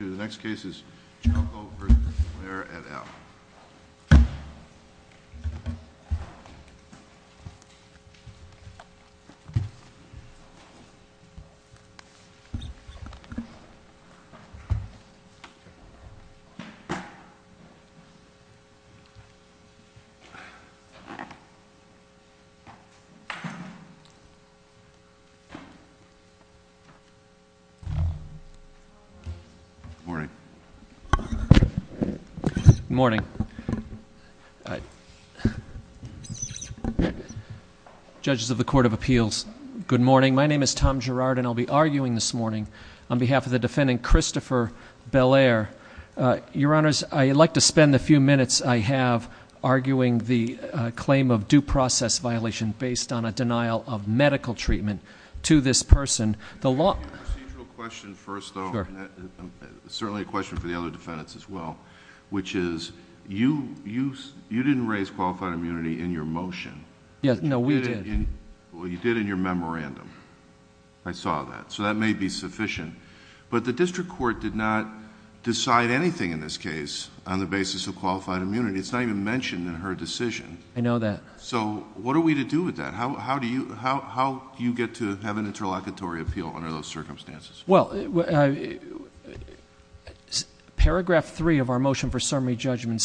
The next case is Chalco v. Belair et al. Good morning. Good morning. Judges of the Court of Appeals, good morning. My name is Tom Girard, and I'll be arguing this morning on behalf of the defendant, Christopher Belair. Your Honors, I'd like to spend the few minutes I have arguing the claim of due process violation based on a denial of medical treatment to this person. The law... Your procedural question first, though. Sure. It's certainly a question for the other defendants as well, which is you didn't raise qualified immunity in your motion. No, we did. Well, you did in your memorandum. I saw that. So that may be sufficient. But the district court did not decide anything in this case on the basis of qualified immunity. It's not even mentioned in her decision. I know that. So what are we to do with that? And how do you get to have an interlocutory appeal under those circumstances? Well, paragraph three of our motion for summary judgment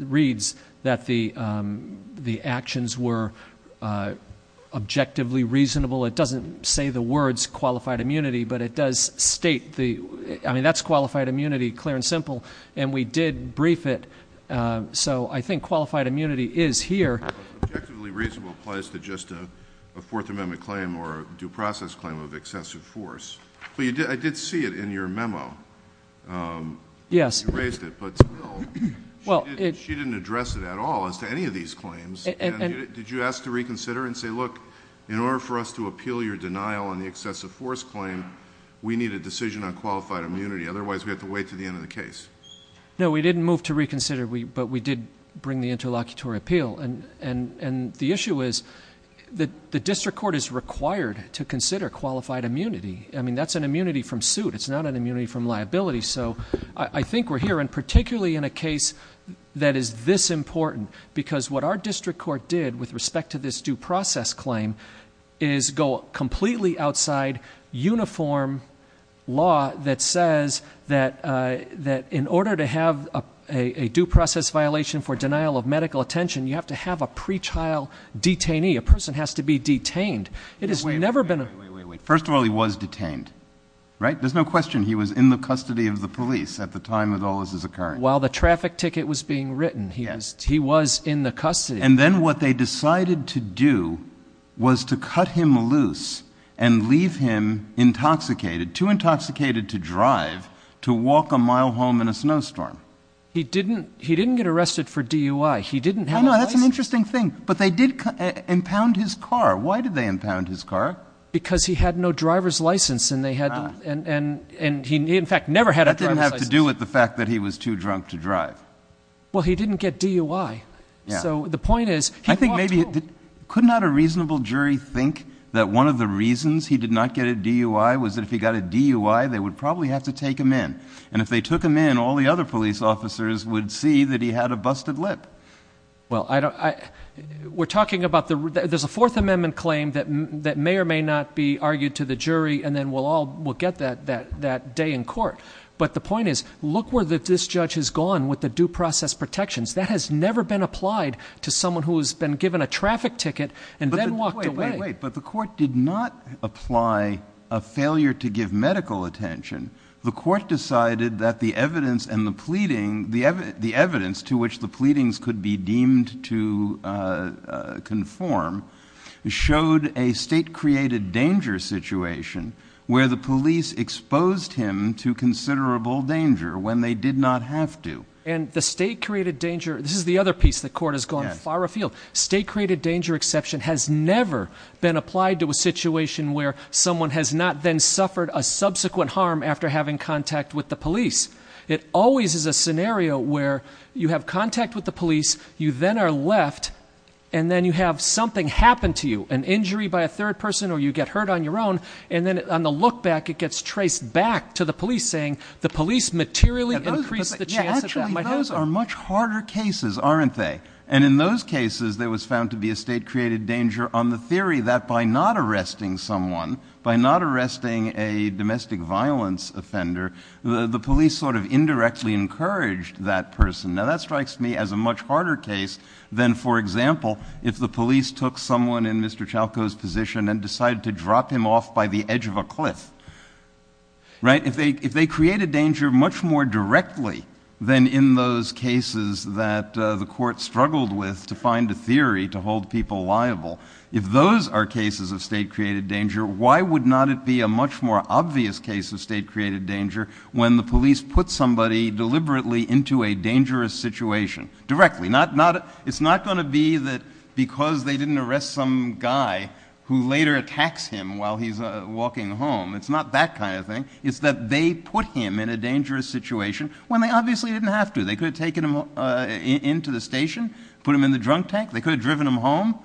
reads that the actions were objectively reasonable. It doesn't say the words qualified immunity, but it does state the... I mean, that's qualified immunity, clear and simple, and we did brief it. So I think qualified immunity is here. Objectively reasonable applies to just a Fourth Amendment claim or a due process claim of excessive force. I did see it in your memo. Yes. You raised it, but she didn't address it at all as to any of these claims. Did you ask to reconsider and say, look, in order for us to appeal your denial on the excessive force claim, we need a decision on qualified immunity. Otherwise, we have to wait until the end of the case. No, we didn't move to reconsider, but we did bring the interlocutory appeal. And the issue is that the district court is required to consider qualified immunity. I mean, that's an immunity from suit. It's not an immunity from liability. So I think we're here, and particularly in a case that is this important, because what our district court did with respect to this due process claim is go completely outside uniform law that says that in order to have a due process violation for denial of medical attention, you have to have a pre-trial detainee. A person has to be detained. Wait, wait, wait, wait. First of all, he was detained, right? There's no question he was in the custody of the police at the time that all this is occurring. While the traffic ticket was being written, he was in the custody. And then what they decided to do was to cut him loose and leave him intoxicated, too intoxicated to drive, to walk a mile home in a snowstorm. He didn't get arrested for DUI. He didn't have a license. I know, that's an interesting thing. But they did impound his car. Why did they impound his car? Because he had no driver's license, and he, in fact, never had a driver's license. That didn't have to do with the fact that he was too drunk to drive. Well, he didn't get DUI. So the point is he walked home. I think maybe could not a reasonable jury think that one of the reasons he did not get a DUI was that if he got a DUI, they would probably have to take him in. And if they took him in, all the other police officers would see that he had a busted lip. Well, we're talking about there's a Fourth Amendment claim that may or may not be argued to the jury, and then we'll all get that day in court. But the point is look where this judge has gone with the due process protections. That has never been applied to someone who has been given a traffic ticket and then walked away. But the court did not apply a failure to give medical attention. The court decided that the evidence and the pleading, the evidence to which the pleadings could be deemed to conform, showed a state-created danger situation where the police exposed him to considerable danger when they did not have to. And the state-created danger, this is the other piece the court has gone far afield. State-created danger exception has never been applied to a situation where someone has not then suffered a subsequent harm after having contact with the police. It always is a scenario where you have contact with the police, you then are left and then you have something happen to you, an injury by a third person or you get hurt on your own, and then on the look back it gets traced back to the police saying the police materially increased the chance that that might happen. Actually, those are much harder cases, aren't they? And in those cases there was found to be a state-created danger on the theory that by not arresting someone, by not arresting a domestic violence offender, the police sort of indirectly encouraged that person. Now that strikes me as a much harder case than, for example, if the police took someone in Mr. Chalco's position and decided to drop him off by the edge of a cliff. If they create a danger much more directly than in those cases that the court struggled with to find a theory to hold people liable, if those are cases of state-created danger, why would not it be a much more obvious case of state-created danger when the police put somebody deliberately into a dangerous situation directly? It's not going to be that because they didn't arrest some guy who later attacks him while he's walking home. It's not that kind of thing. It's that they put him in a dangerous situation when they obviously didn't have to. They could have taken him into the station, put him in the drunk tank. They could have driven him home.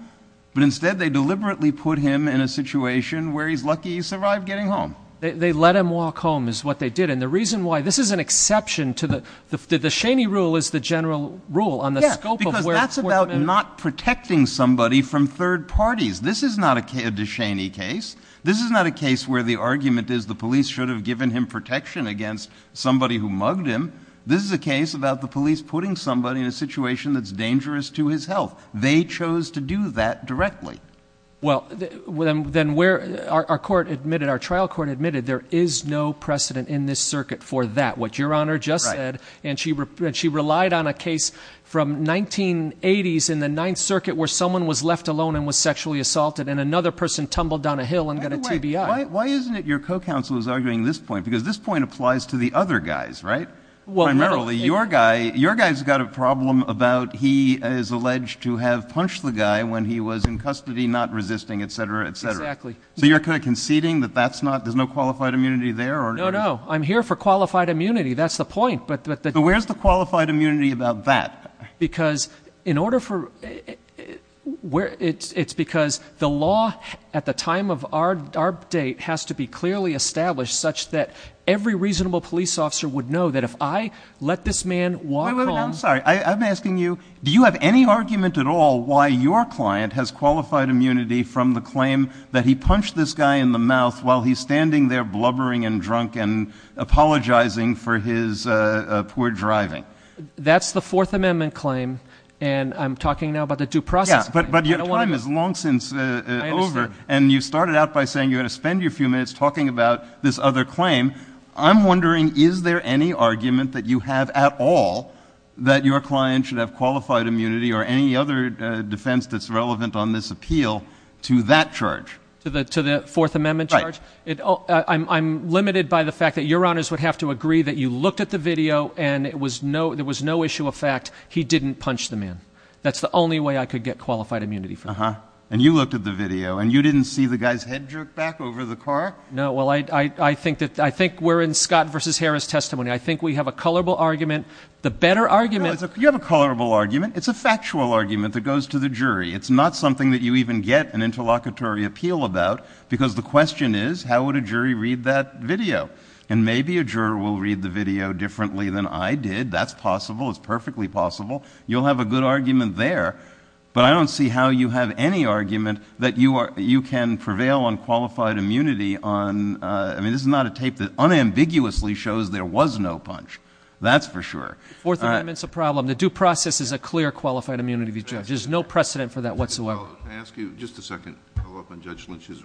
But instead they deliberately put him in a situation where he's lucky he survived getting home. They let him walk home is what they did. And the reason why this is an exception to the – the De Cheney rule is the general rule on the scope of where – Yes, because that's about not protecting somebody from third parties. This is not a De Cheney case. This is not a case where the argument is the police should have given him protection against somebody who mugged him. This is a case about the police putting somebody in a situation that's dangerous to his health. They chose to do that directly. Well, then where – our court admitted, our trial court admitted there is no precedent in this circuit for that, what Your Honor just said. And she relied on a case from 1980s in the Ninth Circuit where someone was left alone and was sexually assaulted and another person tumbled down a hill and got a TBI. Wait a minute. Why isn't it your co-counsel is arguing this point? Because this point applies to the other guys, right? Primarily your guy – your guy's got a problem about he is alleged to have punched the guy when he was in custody, not resisting, et cetera, et cetera. Exactly. So you're kind of conceding that that's not – there's no qualified immunity there? No, no. I'm here for qualified immunity. That's the point. But where's the qualified immunity about that? Because in order for – it's because the law at the time of our date has to be clearly established such that every reasonable police officer would know that if I let this man walk home – Wait a minute. I'm sorry. I'm asking you, do you have any argument at all why your client has qualified immunity from the claim that he punched this guy in the mouth while he's standing there blubbering and drunk and apologizing for his poor driving? That's the Fourth Amendment claim, and I'm talking now about the due process claim. Yeah, but your time is long since over. I understand. And you started out by saying you had to spend your few minutes talking about this other claim. I'm wondering, is there any argument that you have at all that your client should have qualified immunity or any other defense that's relevant on this appeal to that charge? To the Fourth Amendment charge? Right. I'm limited by the fact that Your Honors would have to agree that you looked at the video and there was no issue of fact he didn't punch the man. That's the only way I could get qualified immunity from him. Uh-huh. And you looked at the video, and you didn't see the guy's head jerk back over the car? No. Well, I think we're in Scott v. Harris testimony. I think we have a colorable argument. The better argument – No, you have a colorable argument. It's a factual argument that goes to the jury. It's not something that you even get an interlocutory appeal about because the question is, how would a jury read that video? And maybe a juror will read the video differently than I did. That's possible. It's perfectly possible. You'll have a good argument there. But I don't see how you have any argument that you can prevail on qualified immunity on – I mean, this is not a tape that unambiguously shows there was no punch. That's for sure. Fourth Amendment's a problem. The due process is a clear qualified immunity, Judge. There's no precedent for that whatsoever. Can I ask you just a second to follow up on Judge Lynch's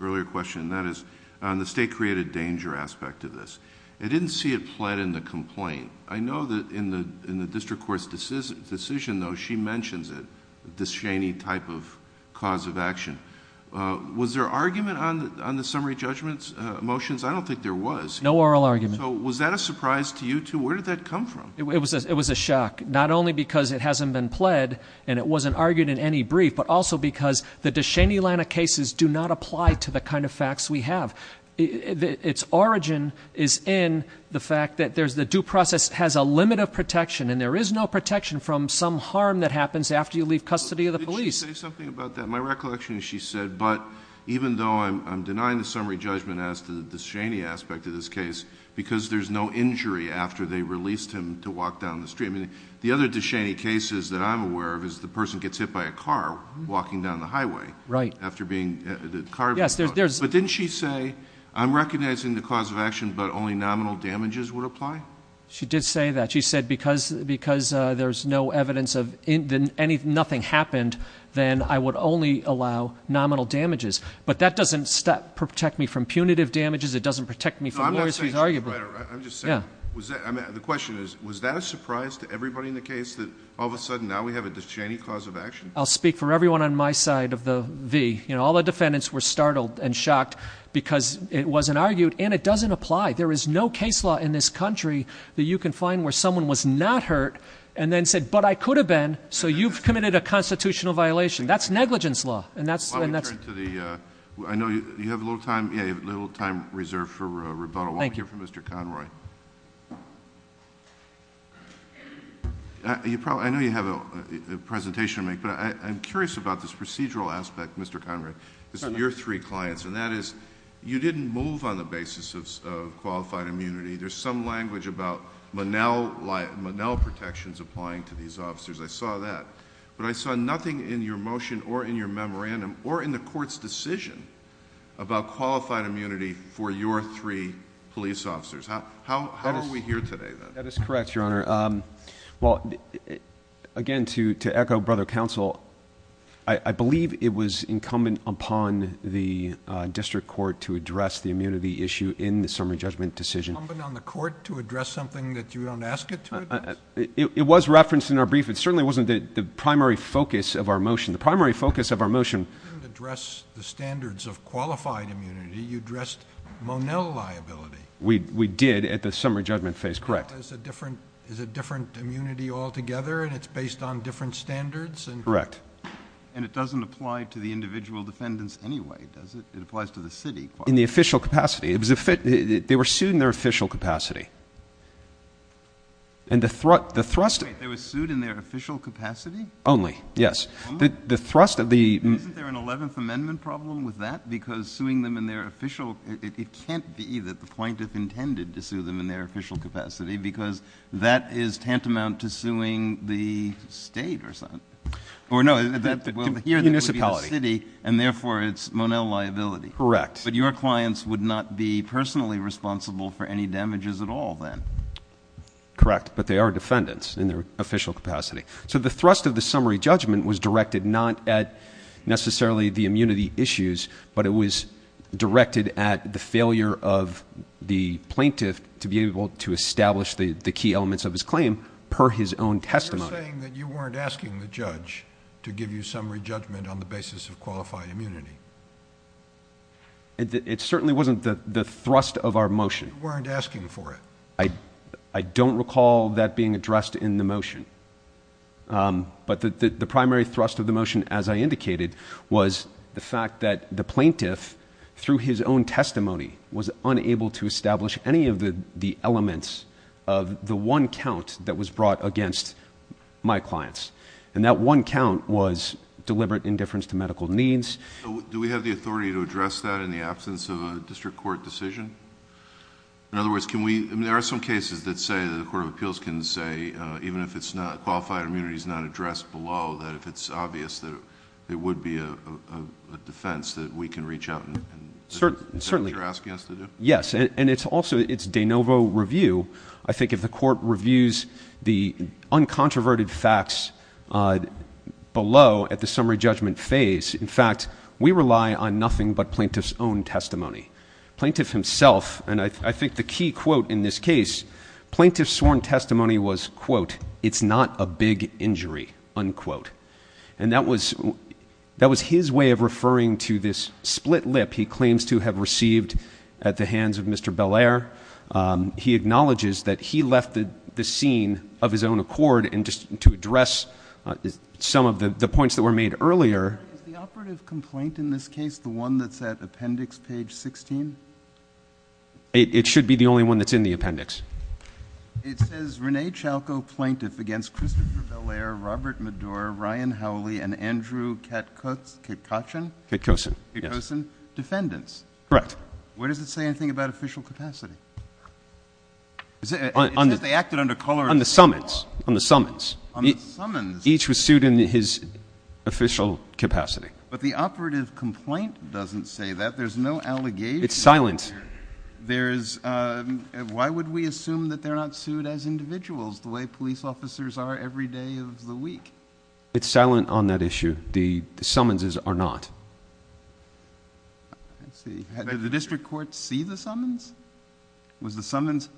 earlier question? That is, on the state-created danger aspect of this. I didn't see it pled in the complaint. I know that in the district court's decision, though, she mentions it, disdainy type of cause of action. Was there argument on the summary judgment motions? I don't think there was. No oral argument. So was that a surprise to you, too? Where did that come from? It was a shock, not only because it hasn't been pled and it wasn't argued in any brief, but also because the disdainy line of cases do not apply to the kind of facts we have. Its origin is in the fact that the due process has a limit of protection, and there is no protection from some harm that happens after you leave custody of the police. Did she say something about that? My recollection is she said, but even though I'm denying the summary judgment as to the disdainy aspect of this case, because there's no injury after they released him to walk down the street. I mean, the other disdainy cases that I'm aware of is the person gets hit by a car walking down the highway. Right. After being carved. Yes, there's. But didn't she say, I'm recognizing the cause of action, but only nominal damages would apply? She did say that. She said because there's no evidence of anything, nothing happened, then I would only allow nominal damages. But that doesn't protect me from punitive damages. It doesn't protect me from more serious arguments. The question is, was that a surprise to everybody in the case that all of a sudden now we have a disdainy cause of action? I'll speak for everyone on my side of the V. All the defendants were startled and shocked because it wasn't argued, and it doesn't apply. There is no case law in this country that you can find where someone was not hurt and then said, but I could have been, so you've committed a constitutional violation. That's negligence law. I know you have a little time reserved for rebuttal. Thank you. Let me hear from Mr. Conroy. I know you have a presentation to make, but I'm curious about this procedural aspect, Mr. Conroy. This is your three clients, and that is you didn't move on the basis of qualified immunity. There's some language about Monell protections applying to these officers. I saw that. But I saw nothing in your motion or in your memorandum or in the court's decision about qualified immunity for your three police officers. How are we here today, then? That is correct, Your Honor. Well, again, to echo brother counsel, I believe it was incumbent upon the district court to address the immunity issue in the summary judgment decision. Incumbent on the court to address something that you don't ask it to address? It was referenced in our brief. It certainly wasn't the primary focus of our motion. The primary focus of our motion. You didn't address the standards of qualified immunity. You addressed Monell liability. We did at the summary judgment phase. Correct. Monell is a different immunity altogether, and it's based on different standards? Correct. And it doesn't apply to the individual defendants anyway, does it? It applies to the city. In the official capacity. They were sued in their official capacity. Only? Yes. Isn't there an 11th Amendment problem with that? Because suing them in their official ‑‑ it can't be that the plaintiff intended to sue them in their official capacity because that is tantamount to suing the state or something. Or, no, here it would be the city, and, therefore, it's Monell liability. Correct. Correct, but they are defendants in their official capacity. So the thrust of the summary judgment was directed not at necessarily the immunity issues, but it was directed at the failure of the plaintiff to be able to establish the key elements of his claim per his own testimony. You're saying that you weren't asking the judge to give you summary judgment on the basis of qualified immunity. It certainly wasn't the thrust of our motion. You weren't asking for it. I don't recall that being addressed in the motion, but the primary thrust of the motion, as I indicated, was the fact that the plaintiff, through his own testimony, was unable to establish any of the elements of the one count that was brought against my clients, and that one count was deliberate indifference to medical needs. Do we have the authority to address that in the absence of a district court decision? In other words, there are some cases that say the Court of Appeals can say, even if qualified immunity is not addressed below, that if it's obvious that it would be a defense, that we can reach out and do what you're asking us to do? Yes, and it's also de novo review. I think if the court reviews the uncontroverted facts below at the summary judgment phase, in fact, we rely on nothing but plaintiff's own testimony. Plaintiff himself, and I think the key quote in this case, plaintiff's sworn testimony was, quote, it's not a big injury, unquote. And that was his way of referring to this split lip he claims to have received at the hands of Mr. Belair. He acknowledges that he left the scene of his own accord, and just to address some of the points that were made earlier. Is the operative complaint in this case the one that's at appendix page 16? It should be the only one that's in the appendix. It says Rene Chalco Plaintiff against Christopher Belair, Robert Medour, Ryan Howley, and Andrew Katkocin? Katkocin, yes. Katkocin defendants? Correct. Where does it say anything about official capacity? It says they acted under color. On the summons. On the summons. On the summons. Each was sued in his official capacity. But the operative complaint doesn't say that. There's no allegation. It's silent. Why would we assume that they're not sued as individuals the way police officers are every day of the week? It's silent on that issue. The summonses are not. I see. Did the district court see the summons? Was the summons?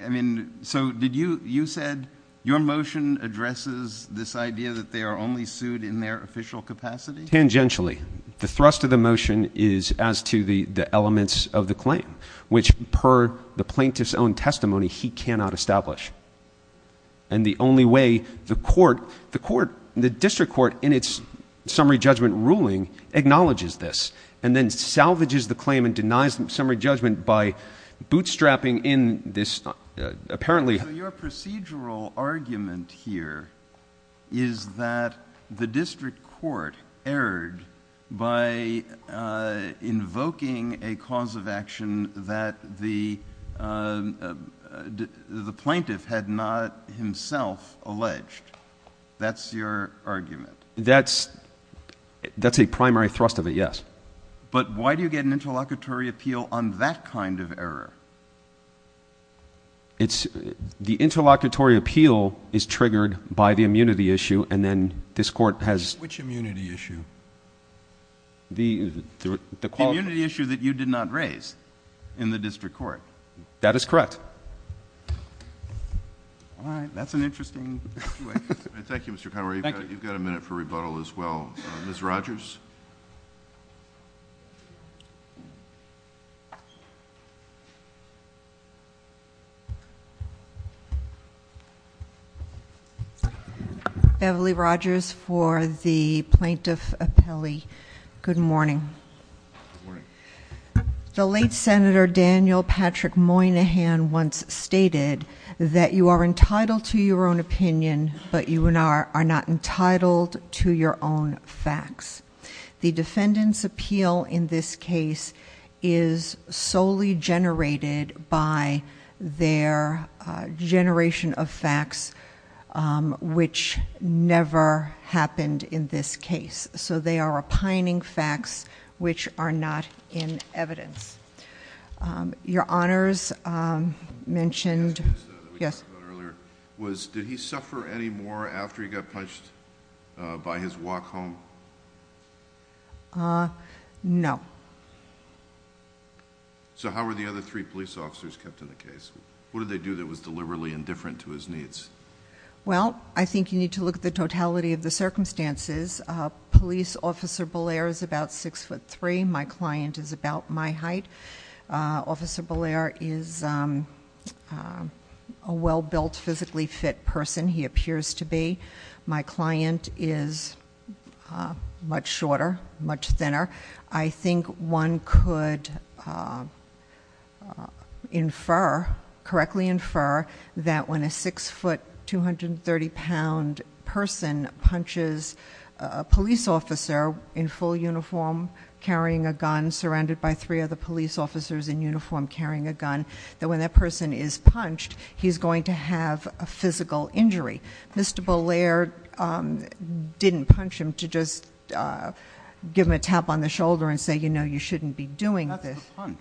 I mean, so did you, you said your motion addresses this idea that they are only sued in their official capacity? Tangentially. The thrust of the motion is as to the elements of the claim, which per the plaintiff's own testimony he cannot establish. And the only way the court, the court, the district court in its summary judgment ruling acknowledges this and then salvages the claim and denies the summary judgment by bootstrapping in this, apparently. So your procedural argument here is that the district court erred by invoking a cause of action that the plaintiff had not himself alleged. That's your argument. That's a primary thrust of it, yes. But why do you get an interlocutory appeal on that kind of error? The interlocutory appeal is triggered by the immunity issue and then this court has... Which immunity issue? The quality... The immunity issue that you did not raise in the district court. That is correct. All right. That's an interesting... Thank you, Mr. Conroy. You've got a minute for rebuttal as well. Ms. Rogers? Beverly Rogers for the plaintiff appellee. Good morning. Good morning. The late Senator Daniel Patrick Moynihan once stated that you are entitled to your own opinion, but you are not entitled to your own facts. The defendant's appeal in this case is solely generated by their generation of facts, which never happened in this case. So they are opining facts which are not in evidence. Your Honors mentioned... The last case that we talked about earlier... Yes.... did he suffer any more after he got punched by his walk home? No. So how were the other three police officers kept in the case? What did they do that was deliberately indifferent to his needs? Well, I think you need to look at the totality of the circumstances. Police Officer Bolaire is about six foot three. My client is about my height. Officer Bolaire is a well-built, physically fit person. He appears to be. My client is much shorter, much thinner. I think one could correctly infer that when a six foot 230 pound person punches a police officer in full uniform, carrying a gun, surrounded by three other police officers in uniform carrying a gun, that when that person is punched, he's going to have a physical injury. Mr. Bolaire didn't punch him to just give him a tap on the shoulder and say, you know, you shouldn't be doing this. That's the punch.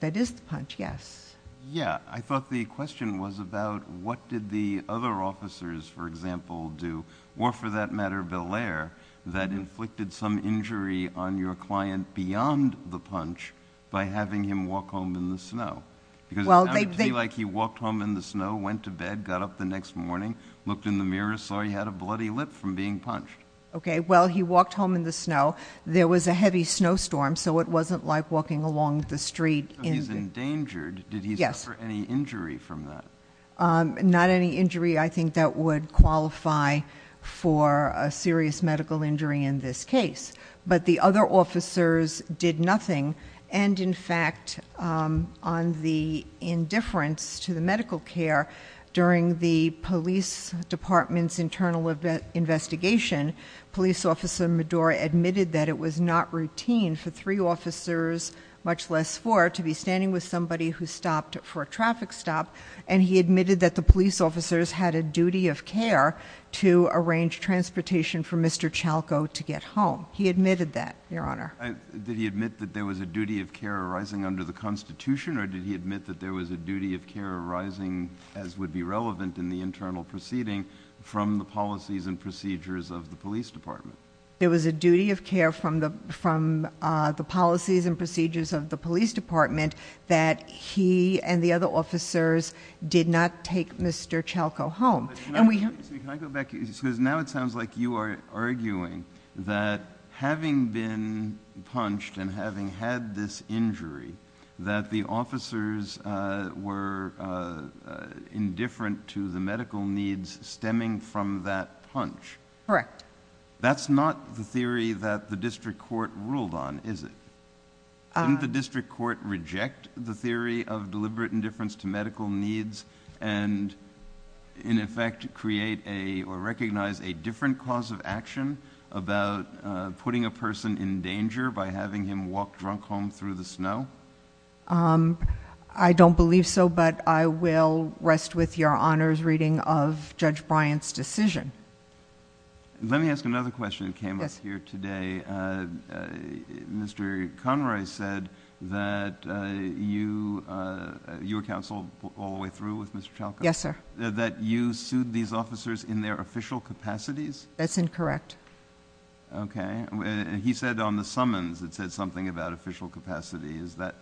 That is the punch, yes. Yeah. I thought the question was about what did the other officers, for example, do, or for that matter, Bolaire, that inflicted some injury on your client beyond the punch by having him walk home in the snow? Because it sounded to me like he walked home in the snow, went to bed, got up the next morning, looked in the mirror, saw he had a bloody lip from being punched. Okay, well, he walked home in the snow. There was a heavy snowstorm, so it wasn't like walking along the street. So he's endangered. Did he suffer any injury from that? Not any injury I think that would qualify for a serious medical injury in this case. But the other officers did nothing. And in fact, on the indifference to the medical care, during the police department's internal investigation, police officer Medora admitted that it was not routine for three officers, much less four, to be standing with somebody who stopped for a traffic stop. And he admitted that the police officers had a duty of care to arrange transportation for Mr. Chalco to get home. He admitted that, Your Honor. Did he admit that there was a duty of care arising under the Constitution, or did he admit that there was a duty of care arising, as would be relevant in the internal proceeding, from the policies and procedures of the police department? There was a duty of care from the policies and procedures of the police department that he and the other officers did not take Mr. Chalco home. And we... Can I go back? Because now it sounds like you are arguing that having been punched and having had this injury, that the officers were indifferent to the medical needs stemming from that punch. Correct. That's not the theory that the district court ruled on, is it? Didn't the district court reject the theory of deliberate indifference to medical needs and, in effect, create or recognize a different cause of action about putting a person in danger by having him walk drunk home through the snow? I don't believe so, but I will rest with Your Honor's reading of Judge Bryant's decision. Let me ask another question that came up here today. Mr. Conroy said that you... you were counsel all the way through with Mr. Chalco? Yes, sir. That you sued these officers in their official capacities? That's incorrect. Okay. He said on the summons it said something about official capacity. Is that...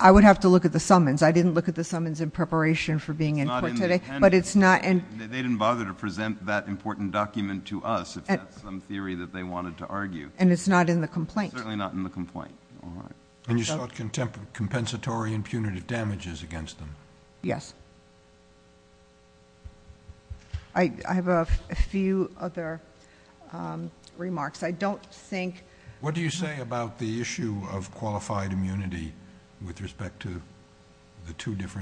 I would have to look at the summons. I didn't look at the summons in preparation for being in court today, but it's not... They didn't bother to present that important document to us if that's some theory that they wanted to argue. And it's not in the complaint? It's certainly not in the complaint. All right. And you sought compensatory and punitive damages against them? Yes. I have a few other remarks. I don't think... What do you say about the issue of qualified immunity with respect to the two different...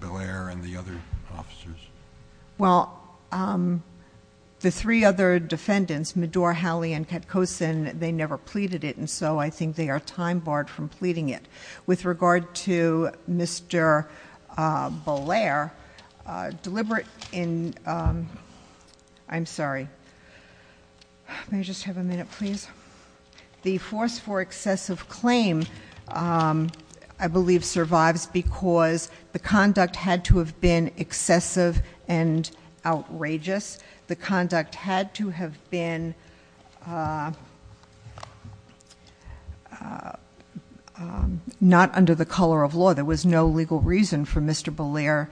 Bill Ayer and the other officers? Well, the three other defendants, Medour, Halley, and Katkosin, they never pleaded it. And so, I think they are time barred from pleading it. With regard to Mr. Bollier, deliberate in... I'm sorry. May I just have a minute, please? The force for excessive claim, I believe, survives because the conduct had to have been excessive and outrageous. The conduct had to have been not under the color of law. There was no legal reason for Mr. Bollier...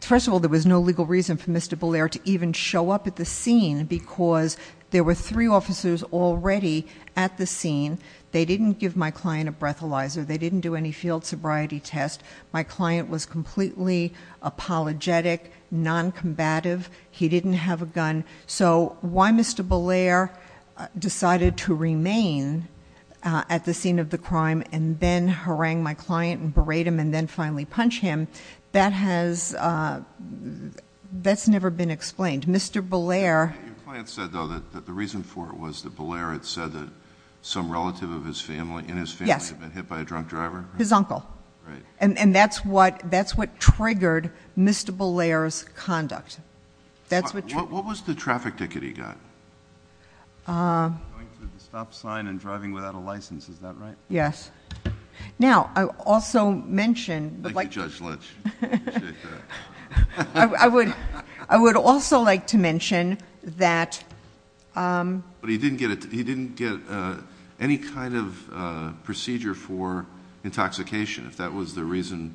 First of all, there was no legal reason for Mr. Bollier to even show up at the scene because there were three officers already at the scene. They didn't give my client a breathalyzer. They didn't do any field sobriety test. My client was completely apologetic, noncombative. He didn't have a gun. So, why Mr. Bollier decided to remain at the scene of the crime and then harangue my client and berate him and then finally punch him, that has... that's never been explained. Mr. Bollier... Your client said, though, that the reason for it was that Bollier had said that some relative of his family... Yes.... in his family had been hit by a drunk driver? His uncle. Right. And that's what triggered Mr. Bollier's conduct. That's what triggered... What was the traffic ticket he got? Going through the stop sign and driving without a license. Is that right? Yes. Now, I also mentioned... Thank you, Judge Litch. I appreciate that. I would also like to mention that... But, he didn't get any kind of procedure for intoxication, if that was the reason,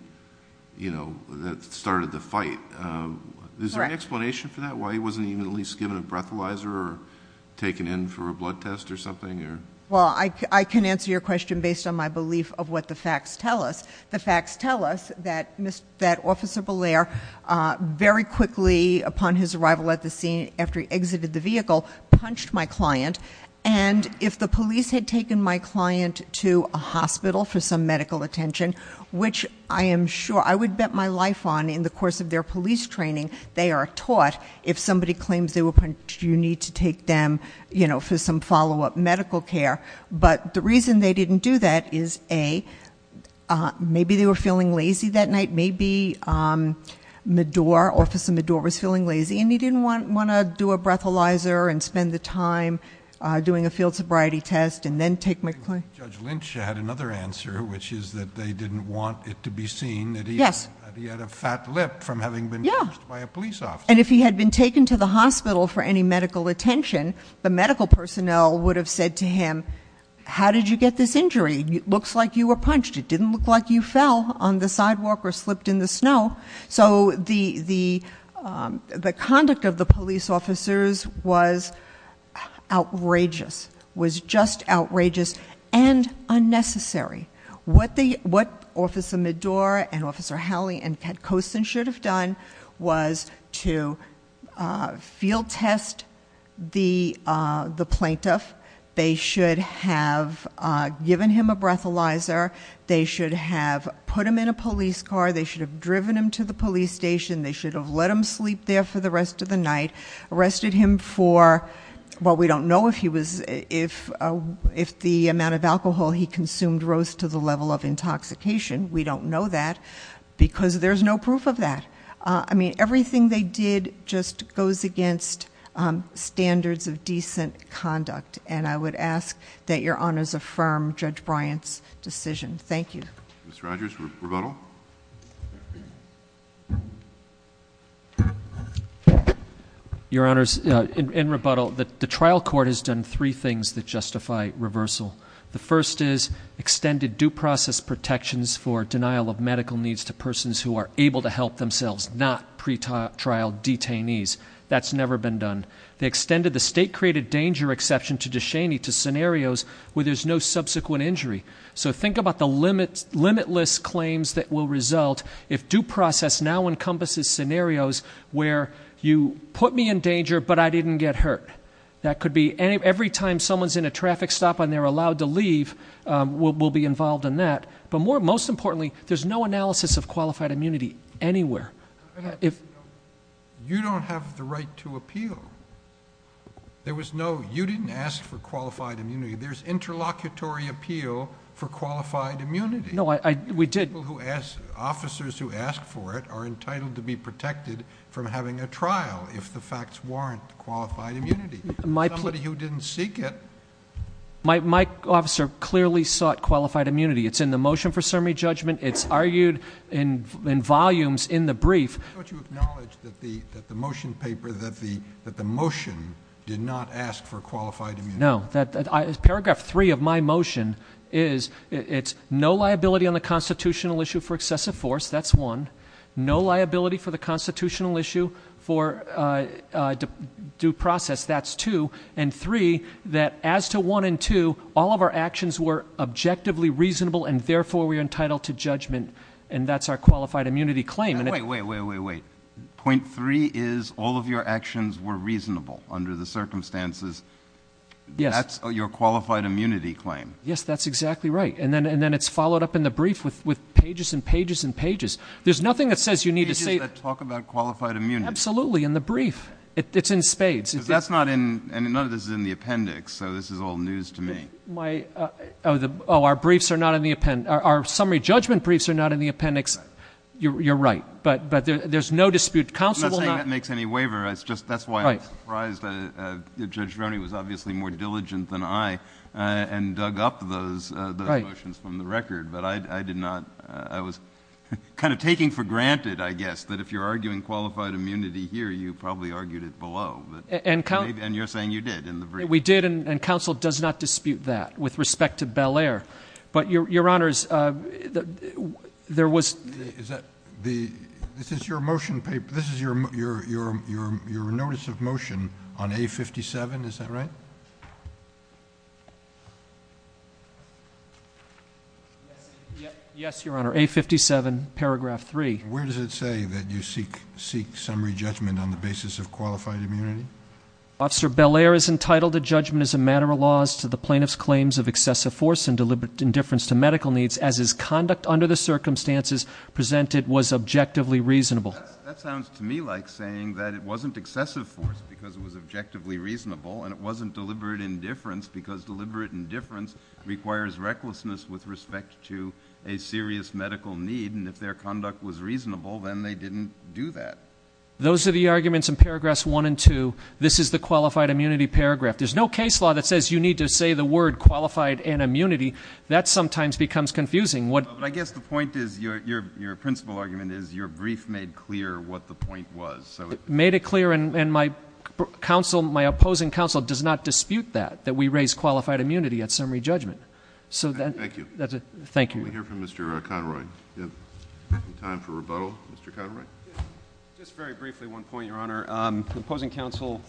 you know, that started the fight. Correct. Is there any explanation for that? Why he wasn't even at least given a breathalyzer or taken in for a blood test or something? Well, I can answer your question based on my belief of what the facts tell us. The facts tell us that Officer Bollier, very quickly upon his arrival at the scene, after he exited the vehicle, punched my client. And, if the police had taken my client to a hospital for some medical attention, which I am sure... I would bet my life on, in the course of their police training, they are taught... If somebody claims they were punched, you need to take them, you know, for some follow-up medical care. But, the reason they didn't do that is, A, maybe they were feeling lazy that night. Maybe Medor, Officer Medor, was feeling lazy and he didn't want to do a breathalyzer and spend the time doing a field sobriety test and then take my client. I think Judge Lynch had another answer, which is that they didn't want it to be seen... Yes.... that he had a fat lip from having been punched by a police officer. And, if he had been taken to the hospital for any medical attention, the medical personnel would have said to him... How did you get this injury? It looks like you were punched. It didn't look like you fell on the sidewalk or slipped in the snow. So, the conduct of the police officers was outrageous, was just outrageous and unnecessary. What Officer Medor and Officer Howley and Cat Coulson should have done was to field test the plaintiff. They should have given him a breathalyzer. They should have put him in a police car. They should have driven him to the police station. They should have let him sleep there for the rest of the night. Arrested him for... well, we don't know if he was... if the amount of alcohol he consumed rose to the level of intoxication. We don't know that, because there's no proof of that. I mean, everything they did just goes against standards of decent conduct. And, I would ask that your Honors affirm Judge Bryant's decision. Thank you. Mr. Rogers, rebuttal. Your Honors, in rebuttal, the trial court has done three things that justify reversal. The first is extended due process protections for denial of medical needs to persons who are able to help themselves, not pretrial detainees. That's never been done. They extended the state-created danger exception to DeShaney to scenarios where there's no subsequent injury. So, think about the limitless claims that will result if due process now encompasses scenarios where you put me in danger, but I didn't get hurt. That could be... every time someone's in a traffic stop and they're allowed to leave, we'll be involved in that. But, most importantly, there's no analysis of qualified immunity anywhere. You don't have the right to appeal. There was no... you didn't ask for qualified immunity. There's interlocutory appeal for qualified immunity. No, I... we did. People who ask... officers who ask for it are entitled to be protected from having a trial if the facts warrant qualified immunity. My... Somebody who didn't seek it. My officer clearly sought qualified immunity. It's in the motion for summary judgment. It's argued in volumes in the brief. Don't you acknowledge that the motion paper, that the motion did not ask for qualified immunity? No. Paragraph three of my motion is it's no liability on the constitutional issue for excessive force. That's one. No liability for the constitutional issue for due process. That's two. And three, that as to one and two, all of our actions were objectively reasonable and, therefore, we are entitled to judgment. And that's our qualified immunity claim. Wait, wait, wait, wait, wait. Point three is all of your actions were reasonable under the circumstances. Yes. That's your qualified immunity claim. Yes, that's exactly right. And then it's followed up in the brief with pages and pages and pages. There's nothing that says you need to say... Pages that talk about qualified immunity. Absolutely, in the brief. It's in spades. Because that's not in... and none of this is in the appendix, so this is all news to me. My... oh, our briefs are not in the appendix. Our summary judgment briefs are not in the appendix. You're right. But there's no dispute. Counsel will not... I'm not saying that makes any waiver. That's why I was surprised that Judge Roney was obviously more diligent than I and dug up those motions from the record. But I did not... I was kind of taking for granted, I guess, that if you're arguing qualified immunity here, you probably argued it below. And you're saying you did in the brief. We did, and counsel does not dispute that with respect to Bel Air. But, Your Honors, there was... Is that the... this is your motion... this is your notice of motion on A57, is that right? Yes, Your Honor, A57, paragraph 3. Where does it say that you seek summary judgment on the basis of qualified immunity? Officer Bel Air is entitled to judgment as a matter of laws to the plaintiff's claims of excessive force and deliberate indifference to medical needs as his conduct under the circumstances presented was objectively reasonable. That sounds to me like saying that it wasn't excessive force because it was objectively reasonable, and it wasn't deliberate indifference because deliberate indifference requires recklessness with respect to a serious medical need. And if their conduct was reasonable, then they didn't do that. Those are the arguments in paragraphs 1 and 2. This is the qualified immunity paragraph. There's no case law that says you need to say the word qualified and immunity. That sometimes becomes confusing. But I guess the point is... your principal argument is your brief made clear what the point was. It made it clear, and my opposing counsel does not dispute that, that we raise qualified immunity at summary judgment. Thank you. Thank you. Can we hear from Mr. Conroy? Do we have time for rebuttal? Mr. Conroy? Just very briefly, one point, Your Honor. The opposing counsel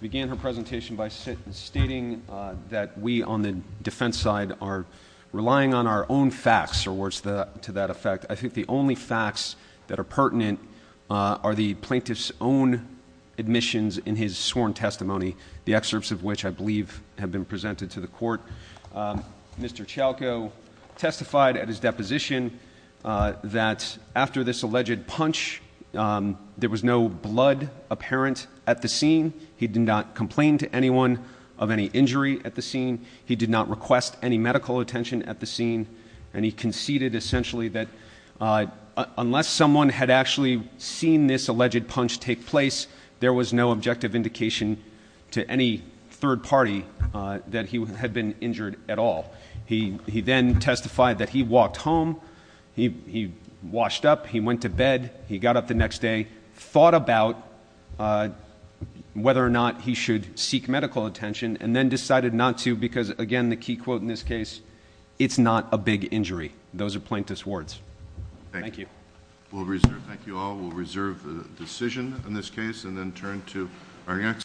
began her presentation by stating that we on the defense side are relying on our own facts or words to that effect. I think the only facts that are pertinent are the plaintiff's own admissions in his sworn testimony, the excerpts of which I believe have been presented to the court. Mr. Chalco testified at his deposition that after this alleged punch, there was no blood apparent at the scene. He did not complain to anyone of any injury at the scene. He did not request any medical attention at the scene. And he conceded essentially that unless someone had actually seen this alleged punch take place, there was no objective indication to any third party that he had been injured at all. He then testified that he walked home. He washed up. He went to bed. He got up the next day, thought about whether or not he should seek medical attention, and then decided not to because, again, the key quote in this case, it's not a big injury. Those are plaintiff's words. Thank you. We'll reserve. Thank you all. We'll reserve the decision in this case and then turn to our next.